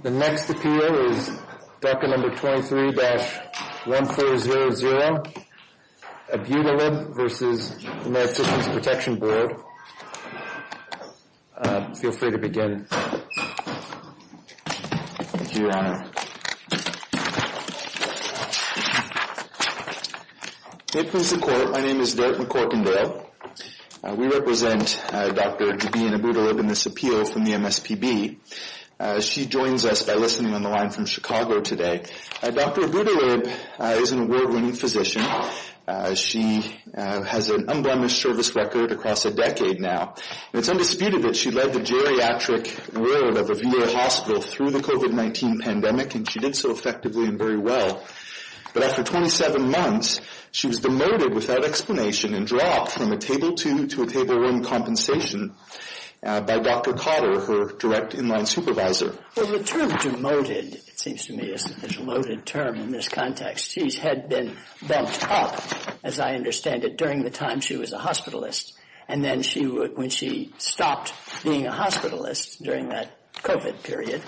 The next appeal is DACA No. 23-1400, Abutalib v. the American Citizens Protection Board. Feel free to begin. Thank you, Your Honor. May it please the Court, my name is Derek McCorkendale. We represent Dr. Jabeen Abutalib in this appeal from the MSPB. She joins us by listening on the line from Chicago today. Dr. Abutalib is an award-winning physician. She has an unblemished service record across a decade now. It's undisputed that she led the geriatric road of a VA hospital through the COVID-19 pandemic, and she did so effectively and very well. But after 27 months, she was demoted without explanation and dropped from a Table 2 to a Table 1 compensation by Dr. Cotter, her direct in-line supervisor. Well, the term demoted, it seems to me, is a demoted term in this context. She had been bent up, as I understand it, during the time she was a hospitalist. And then when she stopped being a hospitalist during that COVID period,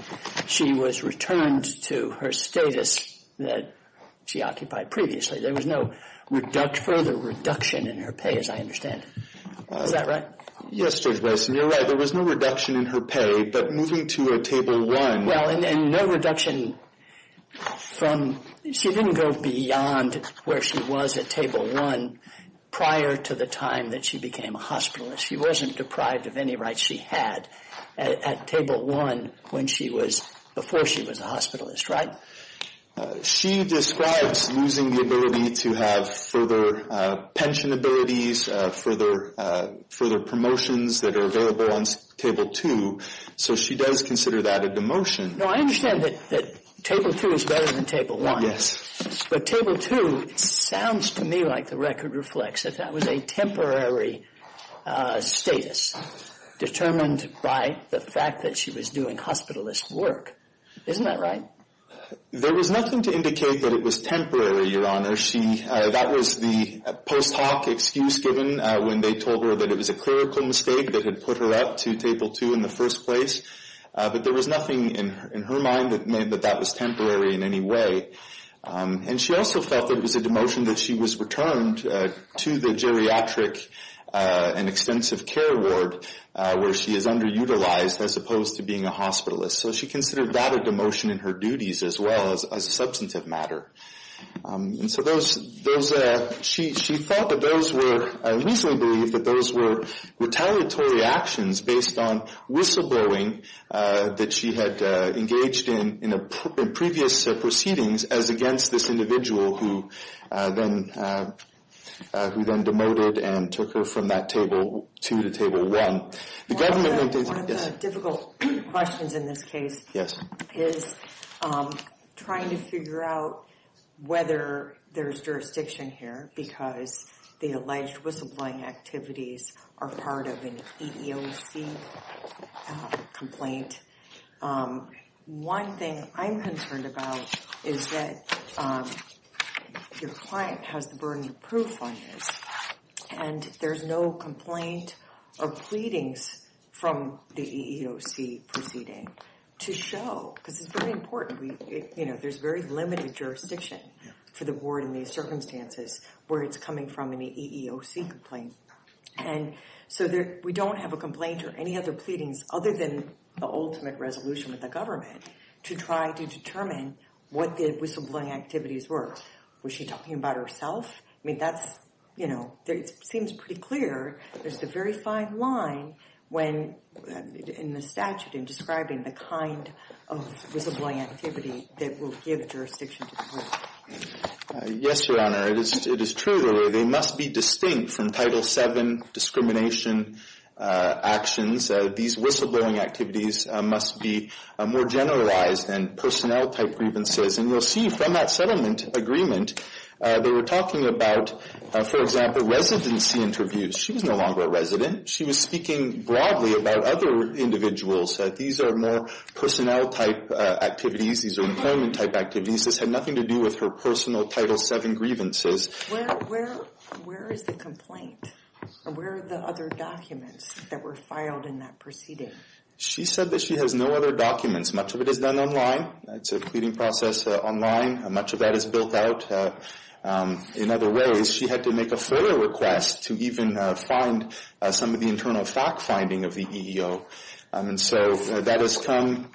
she was returned to her status that she occupied previously. There was no further reduction in her pay, as I understand. Is that right? Yes, Judge Wesson, you're right. There was no reduction in her pay, but moving to a Table 1. Well, and no reduction from – she didn't go beyond where she was at Table 1 prior to the time that she became a hospitalist. She wasn't deprived of any rights she had at Table 1 when she was – before she was a hospitalist, right? She describes losing the ability to have further pension abilities, further promotions that are available on Table 2. So she does consider that a demotion. No, I understand that Table 2 is better than Table 1. Yes. But Table 2 sounds to me like the record reflects that that was a temporary status determined by the fact that she was doing hospitalist work. Isn't that right? There was nothing to indicate that it was temporary, Your Honor. That was the post hoc excuse given when they told her that it was a clerical mistake that had put her up to Table 2 in the first place. But there was nothing in her mind that made that that was temporary in any way. And she also felt that it was a demotion that she was returned to the geriatric and extensive care ward where she is underutilized as opposed to being a hospitalist. So she considered that a demotion in her duties as well as a substantive matter. And so those – she thought that those were – she reasonably believed that those were retaliatory actions based on whistleblowing that she had engaged in in previous proceedings as against this individual who then demoted and took her from that Table 2 to Table 1. One of the difficult questions in this case is trying to figure out whether there's jurisdiction here because the alleged whistleblowing activities are part of an EEOC complaint. One thing I'm concerned about is that your client has the burden of proof on this. And there's no complaint or pleadings from the EEOC proceeding to show – this is very important. You know, there's very limited jurisdiction for the ward in these circumstances where it's coming from an EEOC complaint. And so we don't have a complaint or any other pleadings other than the ultimate resolution with the government to try to determine what the whistleblowing activities were. Was she talking about herself? I mean, that's – you know, it seems pretty clear. There's the very fine line when – in the statute in describing the kind of whistleblowing activity that will give jurisdiction to the person. Yes, Your Honor. It is true, really. They must be distinct from Title VII discrimination actions. These whistleblowing activities must be more generalized than personnel-type grievances. And you'll see from that settlement agreement they were talking about, for example, residency interviews. She was no longer a resident. She was speaking broadly about other individuals. These are more personnel-type activities. These are employment-type activities. This had nothing to do with her personal Title VII grievances. Where is the complaint? Where are the other documents that were filed in that proceeding? She said that she has no other documents. Much of it is done online. It's a pleading process online. Much of that is built out in other ways. She had to make a further request to even find some of the internal fact-finding of the EEO. And so that has come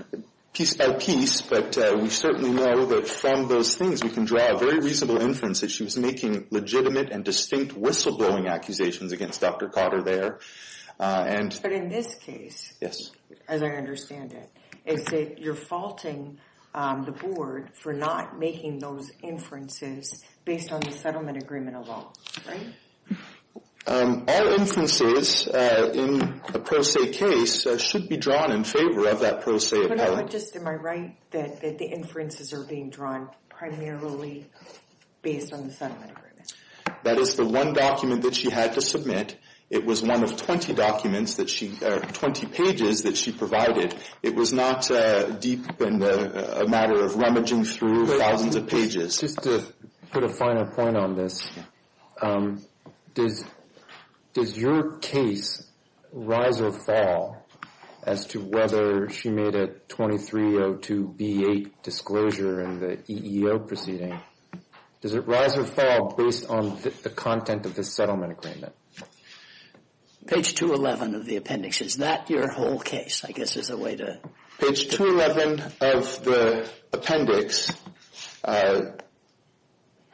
piece by piece, but we certainly know that from those things we can draw a very reasonable inference that she was making legitimate and distinct whistleblowing accusations against Dr. Cotter there. But in this case, as I understand it, you're faulting the Board for not making those inferences based on the settlement agreement alone, right? All inferences in a pro se case should be drawn in favor of that pro se appellate. But just am I right that the inferences are being drawn primarily based on the settlement agreement? That is the one document that she had to submit. It was one of 20 documents that she or 20 pages that she provided. It was not a matter of rummaging through thousands of pages. Just to put a finer point on this, does your case rise or fall as to whether she made a 2302B8 disclosure in the EEO proceeding? Does it rise or fall based on the content of the settlement agreement? Page 211 of the appendix. Is that your whole case, I guess, as a way to... Page 211 of the appendix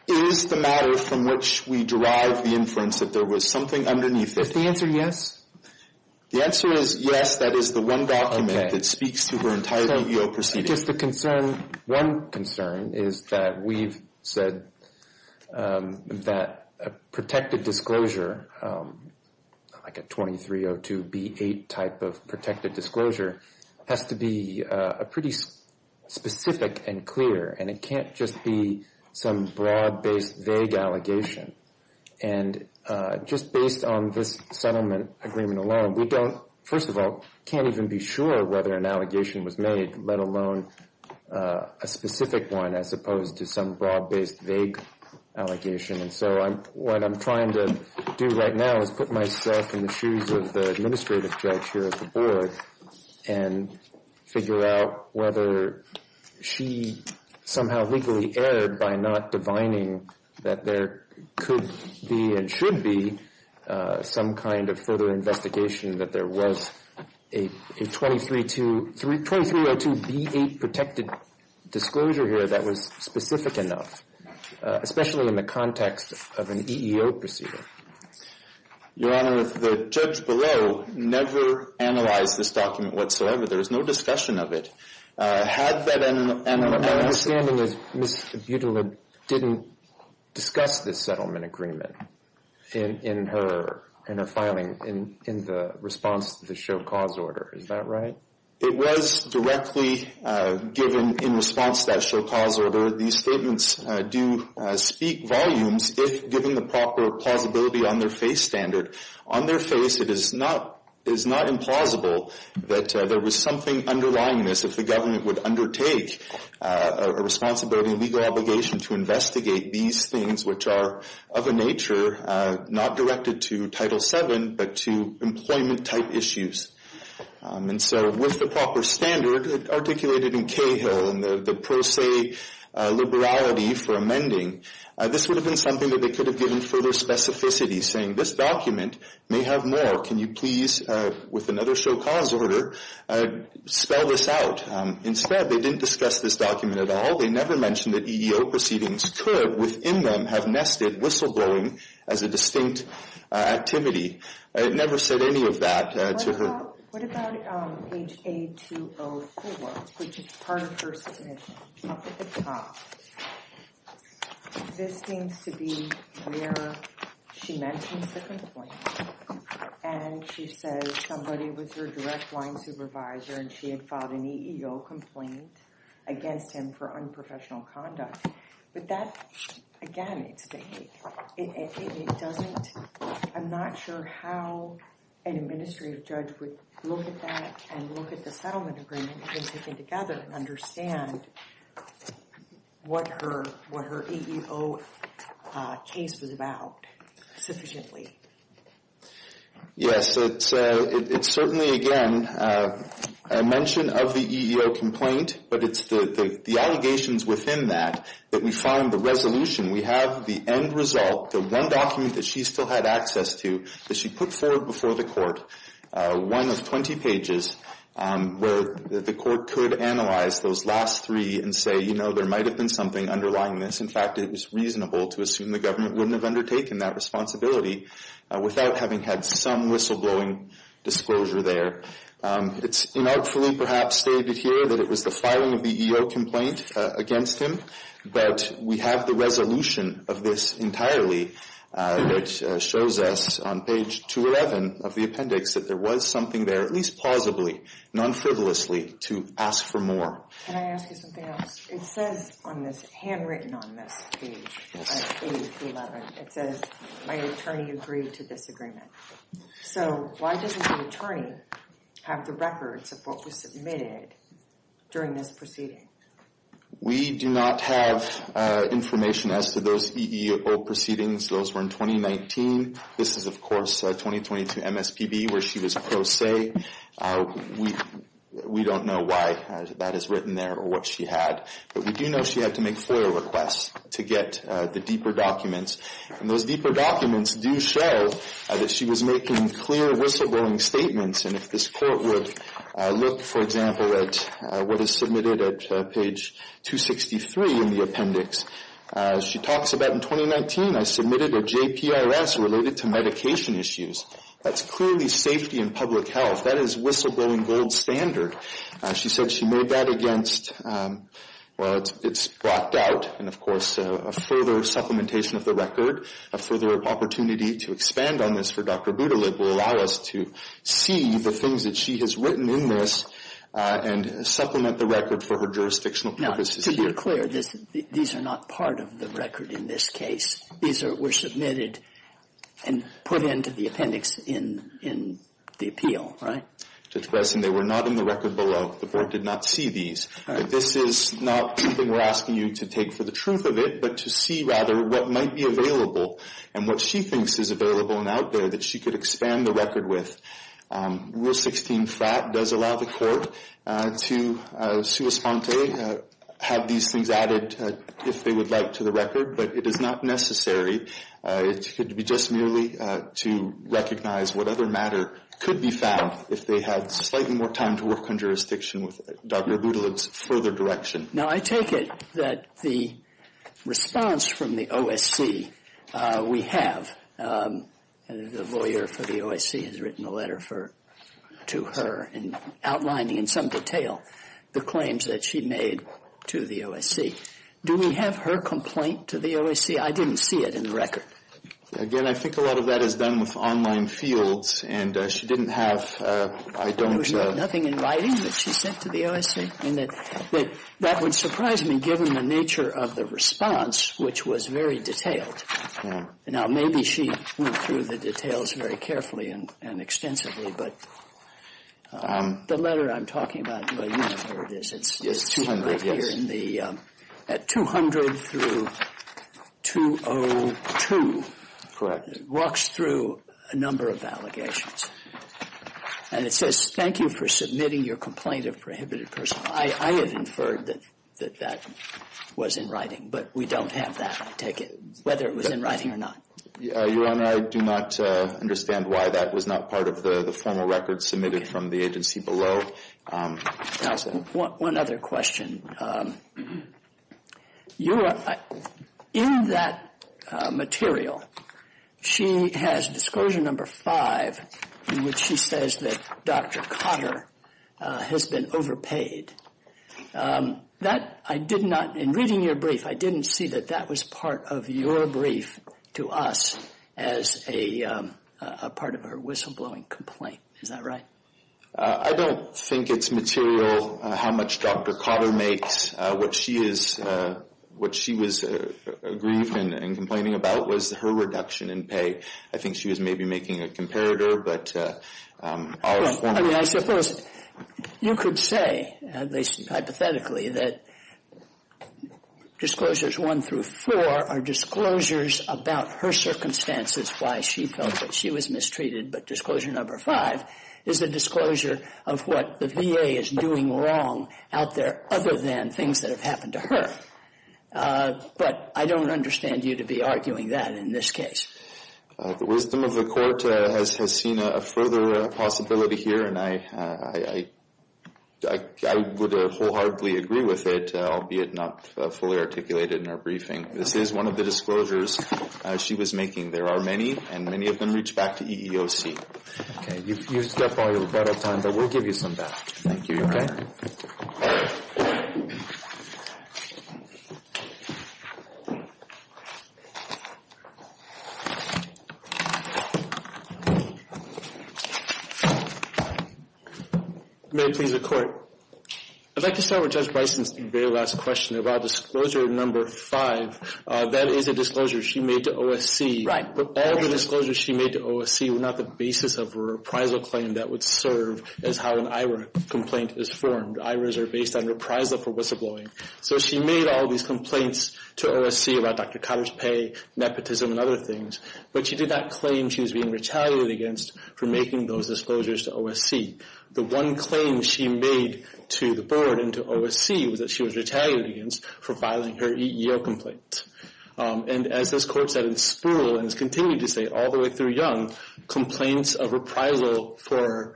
is the matter from which we derive the inference that there was something underneath it. Is the answer yes? The answer is yes, that is the one document that speaks to her entire EEO proceeding. Just the concern, one concern is that we've said that a protected disclosure, like a 2302B8 type of protected disclosure, has to be pretty specific and clear. And it can't just be some broad-based vague allegation. And just based on this settlement agreement alone, we don't, first of all, can't even be sure whether an allegation was made, let alone a specific one as opposed to some broad-based vague allegation. And so what I'm trying to do right now is put myself in the shoes of the administrative judge here at the Board and figure out whether she somehow legally erred by not divining that there could be and should be some kind of further investigation that there was a 2302B8 protected disclosure here that was specific enough, especially in the context of an EEO proceeding. Your Honor, the judge below never analyzed this document whatsoever. There was no discussion of it. Had that analysis... My understanding is Ms. Budula didn't discuss this settlement agreement in her filing in the response to the show-cause order. Is that right? It was directly given in response to that show-cause order. These statements do speak volumes if given the proper plausibility on their face standard. On their face, it is not implausible that there was something underlying this if the government would undertake a responsibility, a legal obligation to investigate these things which are of a nature not directed to Title VII but to employment-type issues. And so with the proper standard articulated in CAHILL and the pro se liberality for amending, this would have been something that they could have given further specificity, saying this document may have more. Can you please, with another show-cause order, spell this out? Instead, they didn't discuss this document at all. They never mentioned that EEO proceedings could, within them, have nested whistleblowing as a distinct activity. It never said any of that to her. What about page A204, which is part of her submission? Up at the top. This seems to be where she mentions the complaint and she says somebody was her direct line supervisor and she had filed an EEO complaint against him for unprofessional conduct. But that, again, it's vague. It doesn't, I'm not sure how an administrative judge would look at that and look at the settlement agreement they've taken together and understand what her EEO case was about sufficiently. Yes, it's certainly, again, a mention of the EEO complaint, but it's the allegations within that that we find the resolution. We have the end result, the one document that she still had access to that she put forward before the court, one of 20 pages, where the court could analyze those last three and say, you know, there might have been something underlying this. In fact, it was reasonable to assume the government wouldn't have undertaken that responsibility without having had some whistleblowing disclosure there. It's inartfully, perhaps, stated here that it was the filing of the EEO complaint against him, but we have the resolution of this entirely that shows us on page 211 of the appendix that there was something there, at least plausibly, non-frivolously, to ask for more. Can I ask you something else? It says on this, handwritten on this page, page 11, it says, my attorney agreed to this agreement. So why doesn't the attorney have the records of what was submitted during this proceeding? We do not have information as to those EEO proceedings. Those were in 2019. This is, of course, 2022 MSPB where she was pro se. We don't know why that is written there or what she had. But we do know she had to make FOIA requests to get the deeper documents. And those deeper documents do show that she was making clear whistleblowing statements. And if this court would look, for example, at what is submitted at page 263 in the appendix, she talks about, in 2019, I submitted a JPRS related to medication issues. That's clearly safety and public health. That is whistleblowing gold standard. She said she made that against, well, it's blocked out. And, of course, a further supplementation of the record, a further opportunity to expand on this for Dr. Budulib will allow us to see the things that she has written in this and supplement the record for her jurisdictional purposes here. Now, to be clear, these are not part of the record in this case. These were submitted and put into the appendix in the appeal, right? Judge Breslin, they were not in the record below. The board did not see these. This is not something we're asking you to take for the truth of it, but to see, rather, what might be available and what she thinks is available and out there that she could expand the record with. Rule 16-flat does allow the court to, sua sponte, have these things added, if they would like, to the record. But it is not necessary. It could be just merely to recognize what other matter could be found if they had slightly more time to work on jurisdiction with Dr. Budulib's further direction. Now, I take it that the response from the OSC we have, the lawyer for the OSC has written a letter to her outlining in some detail the claims that she made to the OSC. Do we have her complaint to the OSC? I didn't see it in the record. Again, I think a lot of that is done with online fields, and she didn't have, I don't know. Nothing in writing that she sent to the OSC? And that would surprise me, given the nature of the response, which was very detailed. Now, maybe she went through the details very carefully and extensively, but the letter I'm talking about, well, you know where it is. It's right here in the 200 through 202. Correct. It walks through a number of allegations, and it says, thank you for submitting your complaint of prohibited personal. I have inferred that that was in writing, but we don't have that, I take it, whether it was in writing or not. Your Honor, I do not understand why that was not part of the formal record submitted from the agency below. One other question. Your Honor, in that material, she has disclosure number five, in which she says that Dr. Kotter has been overpaid. That, I did not, in reading your brief, I didn't see that that was part of your brief to us as a part of her whistleblowing complaint. Is that right? I don't think it's material how much Dr. Kotter makes. What she is, what she was aggrieved and complaining about was her reduction in pay. I think she was maybe making a comparator, but I'll... I mean, I suppose you could say, at least hypothetically, that disclosures one through four are disclosures about her circumstances, why she felt that she was mistreated. But disclosure number five is a disclosure of what the VA is doing wrong out there other than things that have happened to her. But I don't understand you to be arguing that in this case. The wisdom of the Court has seen a further possibility here, and I would wholeheartedly agree with it, albeit not fully articulated in her briefing. This is one of the disclosures she was making. There are many, and many of them reach back to EEOC. Okay. You've used up all your breath of time, but we'll give you some back. Thank you. You okay? All right. May I please record? I'd like to start with Judge Bison's very last question about disclosure number five. That is a disclosure she made to OSC, but all the disclosures she made to OSC were not the basis of her appraisal claim that would serve as how an IRA complaint is formed. IRAs are based on appraisal for whistleblowing. So she made all these complaints to OSC about Dr. Cotter's pay, nepotism, and other things, but she did not claim she was being retaliated against for making those disclosures to OSC. The one claim she made to the Board and to OSC was that she was retaliated against for filing her EEO complaint. And as this Court said in Spruill and has continued to say all the way through Young, complaints of appraisal for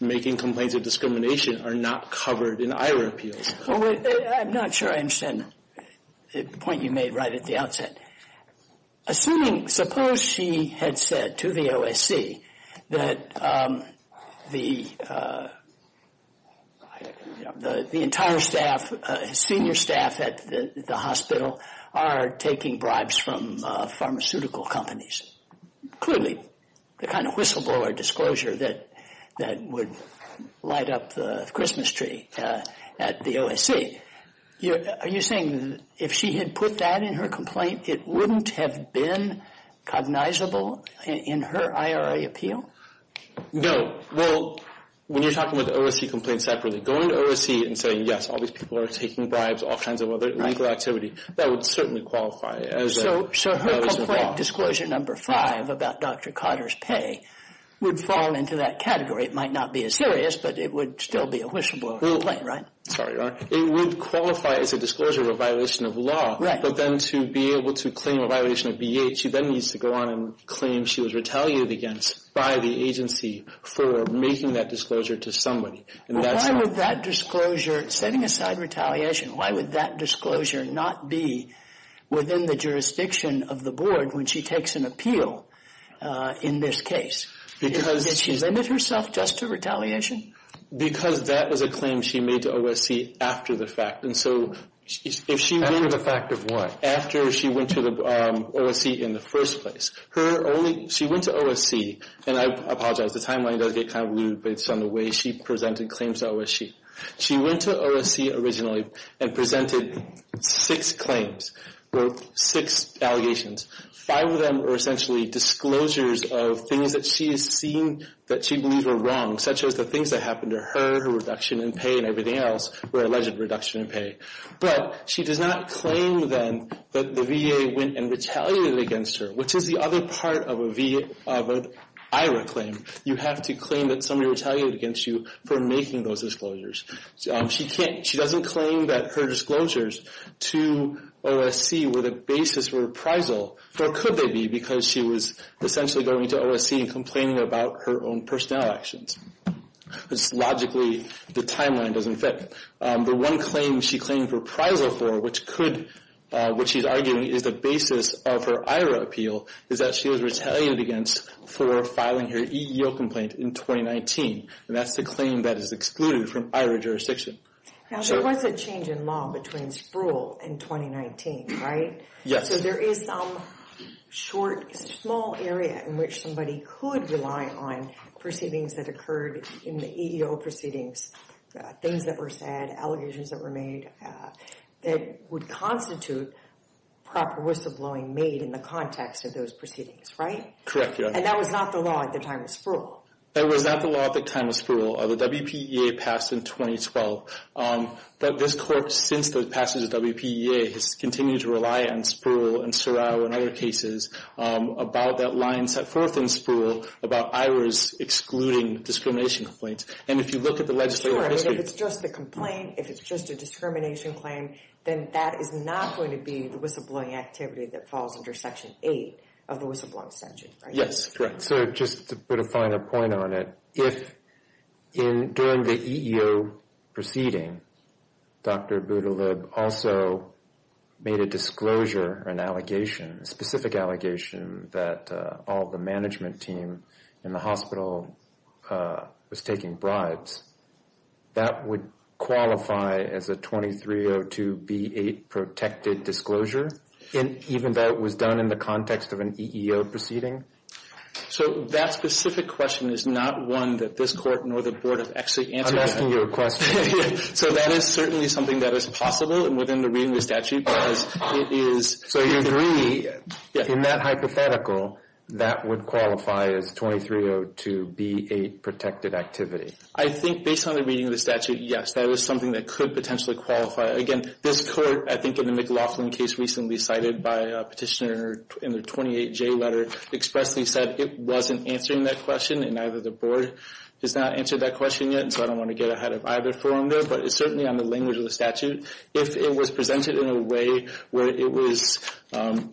making complaints of discrimination are not covered in IRA appeals. I'm not sure I understand the point you made right at the outset. Assuming, suppose she had said to the OSC that the entire staff, senior staff at the hospital are taking bribes from pharmaceutical companies. Clearly, the kind of whistleblower disclosure that would light up the Christmas tree at the OSC. Are you saying that if she had put that in her complaint, it wouldn't have been cognizable in her IRA appeal? No. Well, when you're talking about the OSC complaint separately, going to OSC and saying, yes, all these people are taking bribes, all kinds of other illegal activity, that would certainly qualify. So her complaint, Disclosure No. 5 about Dr. Cotter's pay, would fall into that category. It might not be as serious, but it would still be a whistleblower complaint, right? Sorry, Your Honor. It would qualify as a disclosure of a violation of law. Right. But then to be able to claim a violation of BEA, she then needs to go on and claim she was retaliated against by the agency for making that disclosure to somebody. Why would that disclosure, setting aside retaliation, why would that disclosure not be within the jurisdiction of the board when she takes an appeal in this case? Because she's… Did she limit herself just to retaliation? Because that was a claim she made to OSC after the fact. And so if she… After the fact of what? After she went to OSC in the first place. She went to OSC, and I apologize, the timeline does get kind of lewd, but it's on the way she presented claims to OSC. She went to OSC originally and presented six claims, six allegations. Five of them were essentially disclosures of things that she has seen that she believes are wrong, such as the things that happened to her, her reduction in pay, and everything else, her alleged reduction in pay. But she does not claim, then, that the BEA went and retaliated against her, which is the other part of an IRA claim. You have to claim that somebody retaliated against you for making those disclosures. She doesn't claim that her disclosures to OSC were the basis for reprisal, nor could they be, because she was essentially going to OSC and complaining about her own personnel actions. Logically, the timeline doesn't fit. The one claim she claimed reprisal for, which she's arguing is the basis of her IRA appeal, is that she was retaliated against for filing her EEO complaint in 2019, and that's the claim that is excluded from IRA jurisdiction. Now, there was a change in law between Spruill and 2019, right? Yes. So there is some short, small area in which somebody could rely on proceedings that occurred in the EEO proceedings, things that were said, allegations that were made, that would constitute proper whistleblowing made in the context of those proceedings, right? Correct, yes. And that was not the law at the time of Spruill? That was not the law at the time of Spruill. The WPEA passed in 2012. But this court, since the passage of WPEA, has continued to rely on Spruill and Sorrell and other cases about that line set forth in Spruill about IRAs excluding discrimination complaints. And if you look at the legislative history... Sure, I mean, if it's just the complaint, if it's just a discrimination claim, then that is not going to be the whistleblowing activity that falls under Section 8 of the whistleblowing statute, right? Yes, correct. So just to put a finer point on it, if during the EEO proceeding, Dr. Budulib also made a disclosure, an allegation, a specific allegation that all the management team in the hospital was taking bribes, that would qualify as a 2302B8 protected disclosure, even though it was done in the context of an EEO proceeding? So that specific question is not one that this court nor the board have actually answered yet. I'm asking you a question. So that is certainly something that is possible within the reading of the statute, because it is... So you agree, in that hypothetical, that would qualify as 2302B8 protected activity? I think based on the reading of the statute, yes, that is something that could potentially qualify. Again, this court, I think in the McLaughlin case recently cited by a petitioner in the 28J letter, expressly said it wasn't answering that question, and neither the board has not answered that question yet, and so I don't want to get ahead of either forum there. But it's certainly on the language of the statute. If it was presented in a way where it was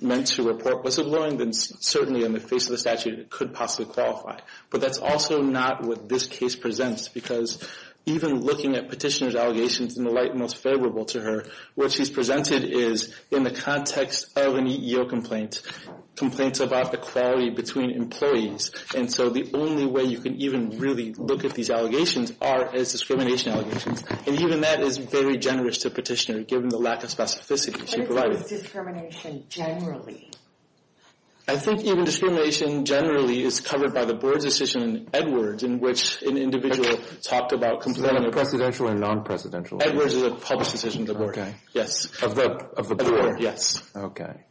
meant to report whistleblowing, then certainly in the face of the statute, it could possibly qualify. But that's also not what this case presents, because even looking at petitioner's allegations in the light most favorable to her, what she's presented is, in the context of an EEO complaint, complaints about the quality between employees. And so the only way you can even really look at these allegations are as discrimination allegations. And even that is very generous to the petitioner, given the lack of specificity she provided. What is discrimination generally? I think even discrimination generally is covered by the board's decision in Edwards, in which an individual talked about... Is that a presidential and non-presidential? Edwards is a public decision of the board. Yes. Of the board. Yes. Okay.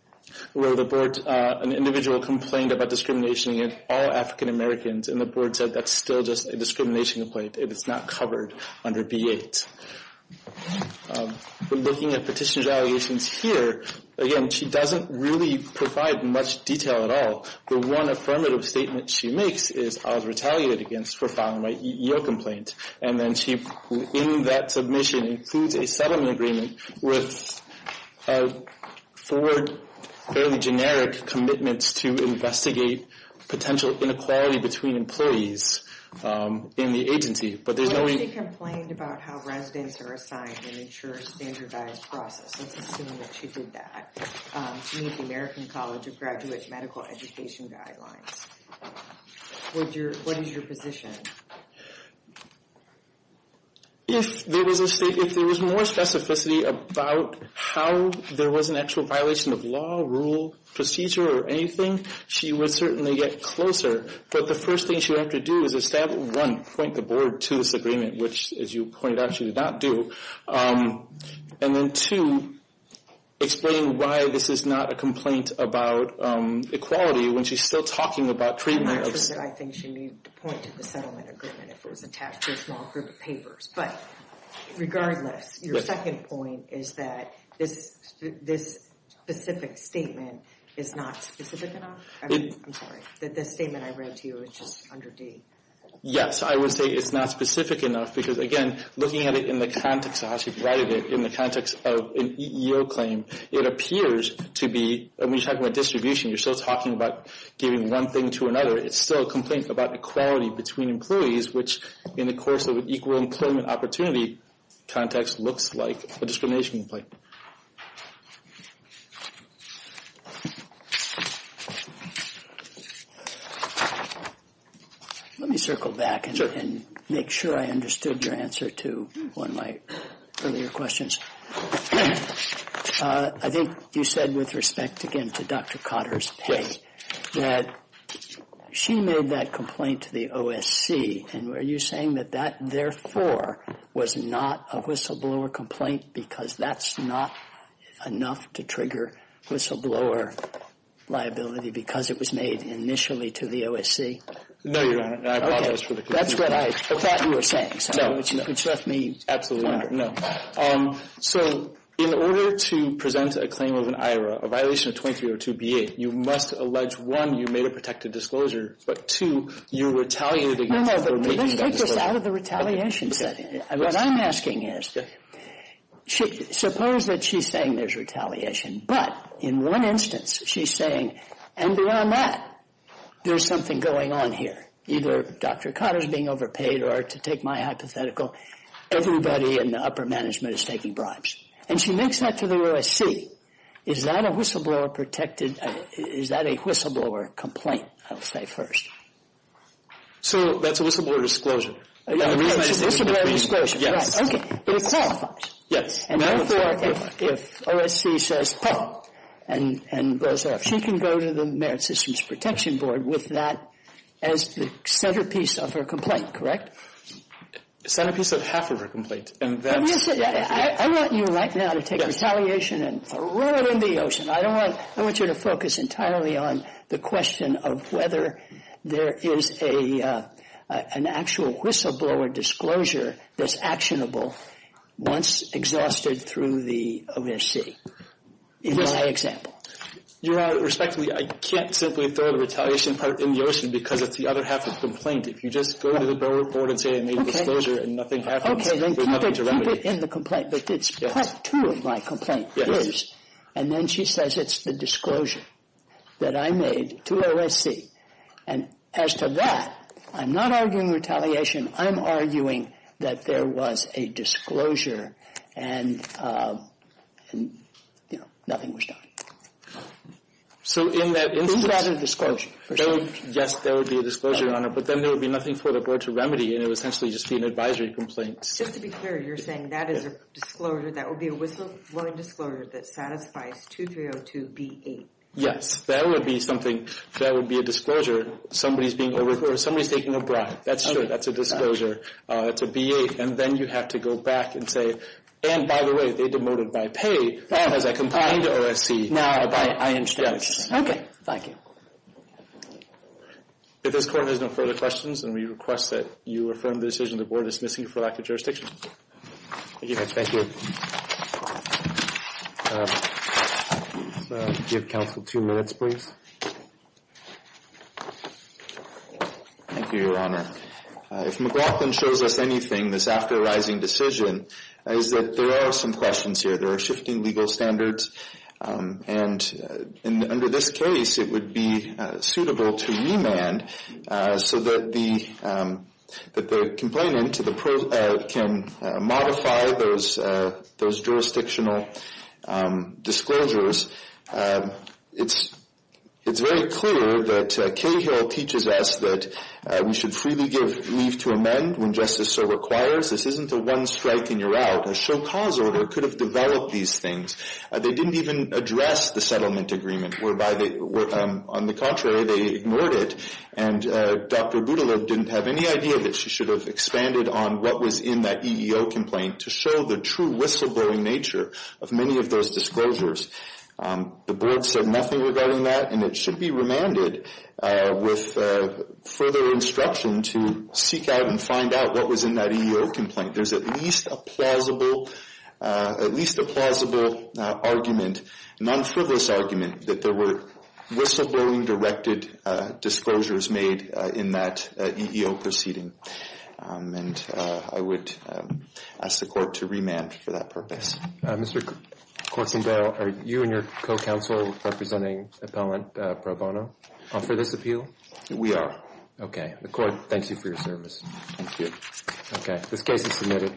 Where the board, an individual complained about discrimination against all African Americans, and the board said that's still just a discrimination complaint. It is not covered under B-8. But looking at petitioner's allegations here, again, she doesn't really provide much detail at all. The one affirmative statement she makes is, I was retaliated against for filing my EEO complaint. And then she, in that submission, includes a settlement agreement with a forward, fairly generic commitment to investigate potential inequality between employees in the agency. But there's no... Well, she complained about how residents are assigned an insurance standardized process. Let's assume that she did that. She met the American College of Graduate Medical Education guidelines. What is your position? If there was more specificity about how there was an actual violation of law, rule, procedure, or anything, she would certainly get closer. But the first thing she would have to do is, one, point the board to this agreement, which, as you pointed out, she did not do. And then, two, explain why this is not a complaint about equality, when she's still talking about treatment of... That I think she needed to point to the settlement agreement if it was attached to a small group of papers. But regardless, your second point is that this specific statement is not specific enough. I'm sorry, that this statement I read to you is just under D. Yes, I would say it's not specific enough because, again, looking at it in the context of how she provided it, in the context of an EEO claim, it appears to be... When you're talking about distribution, you're still talking about giving one thing to another. It's still a complaint about equality between employees, which, in the course of an EEO context, looks like a discrimination complaint. Let me circle back and make sure I understood your answer to one of my earlier questions. I think you said, with respect, again, to Dr. Cotter's point, that she made that complaint to the OSC. And were you saying that that, therefore, was not a whistleblower complaint because that's not enough to trigger whistleblower liability because it was made initially to the OSC? No, Your Honor. I apologize for the confusion. That's what I thought you were saying, so it's left me... Absolutely, Your Honor. So, in order to present a claim of an IRA, a violation of 2302B8, you must allege, one, you made a protected disclosure, but, two, you retaliated against... No, no, let's take this out of the retaliation setting. What I'm asking is, suppose that she's saying there's retaliation, but, in one instance, she's saying, and beyond that, there's something going on here. Either Dr. Cotter's being overpaid or, to take my hypothetical, everybody in the upper management is taking bribes. And she makes that to the OSC. Is that a whistleblower protected... Is that a whistleblower complaint, I'll say first? So, that's a whistleblower disclosure. That's a whistleblower disclosure. Yes. It qualifies. Yes. And, therefore, if OSC says, ha, and blows off, she can go to the Merit Systems Protection Board with that as the centerpiece of her complaint, correct? The centerpiece of half of her complaint, and that's... I want you, right now, to take retaliation and throw it in the ocean. I don't want... I want you to focus entirely on the question of whether there is an actual whistleblower disclosure that's actionable once exhausted through the OSC. In my example. Your Honor, respectfully, I can't simply throw the retaliation part in the ocean because it's the other half of the complaint. If you just go to the board and say I made a disclosure and nothing happens... Okay, then keep it in the complaint. But it's part two of my complaint. Yes. And then she says it's the disclosure that I made to OSC. And, as to that, I'm not arguing retaliation. I'm arguing that there was a disclosure and, you know, nothing was done. So, in that instance... Is that a disclosure? Yes, there would be a disclosure, Your Honor. But then there would be nothing for the board to remedy and it would essentially just be an advisory complaint. Just to be clear, you're saying that is a disclosure, that would be a whistleblowing disclosure that satisfies 2302B8? Yes, that would be something, that would be a disclosure. Somebody's taking a bribe. That's sure, that's a disclosure. It's a B8. And then you have to go back and say, and by the way, they demoted by pay as I complained to OSC. Now, I understand. Yes. Okay, thank you. If this court has no further questions, then we request that you affirm the decision the board is dismissing for lack of jurisdiction. Thank you, Judge. Thank you. Thank you. Give counsel two minutes, please. Thank you, Your Honor. If McLaughlin shows us anything, this after arising decision, is that there are some questions here. There are shifting legal standards. And under this case, it would be suitable to remand so that the complainant can modify those jurisdictional disclosures. It's very clear that Cahill teaches us that we should freely give leave to amend when justice so requires. This isn't a one strike and you're out. A show cause order could have developed these things. They didn't even address the settlement agreement, on the contrary, they ignored it. And Dr. Budelow didn't have any idea that she should have expanded on what was in that EEO complaint to show the true whistleblowing nature of many of those disclosures. The board said nothing regarding that, and it should be remanded with further instruction to seek out and find out what was in that EEO complaint. There's at least a plausible argument, non-frivolous argument, that there were whistleblowing-directed disclosures made in that EEO proceeding. And I would ask the court to remand for that purpose. Mr. Courtsendale, are you and your co-counsel representing appellant Pro Bono for this appeal? We are. Okay. The court thanks you for your service. Thank you. Okay. This case is submitted.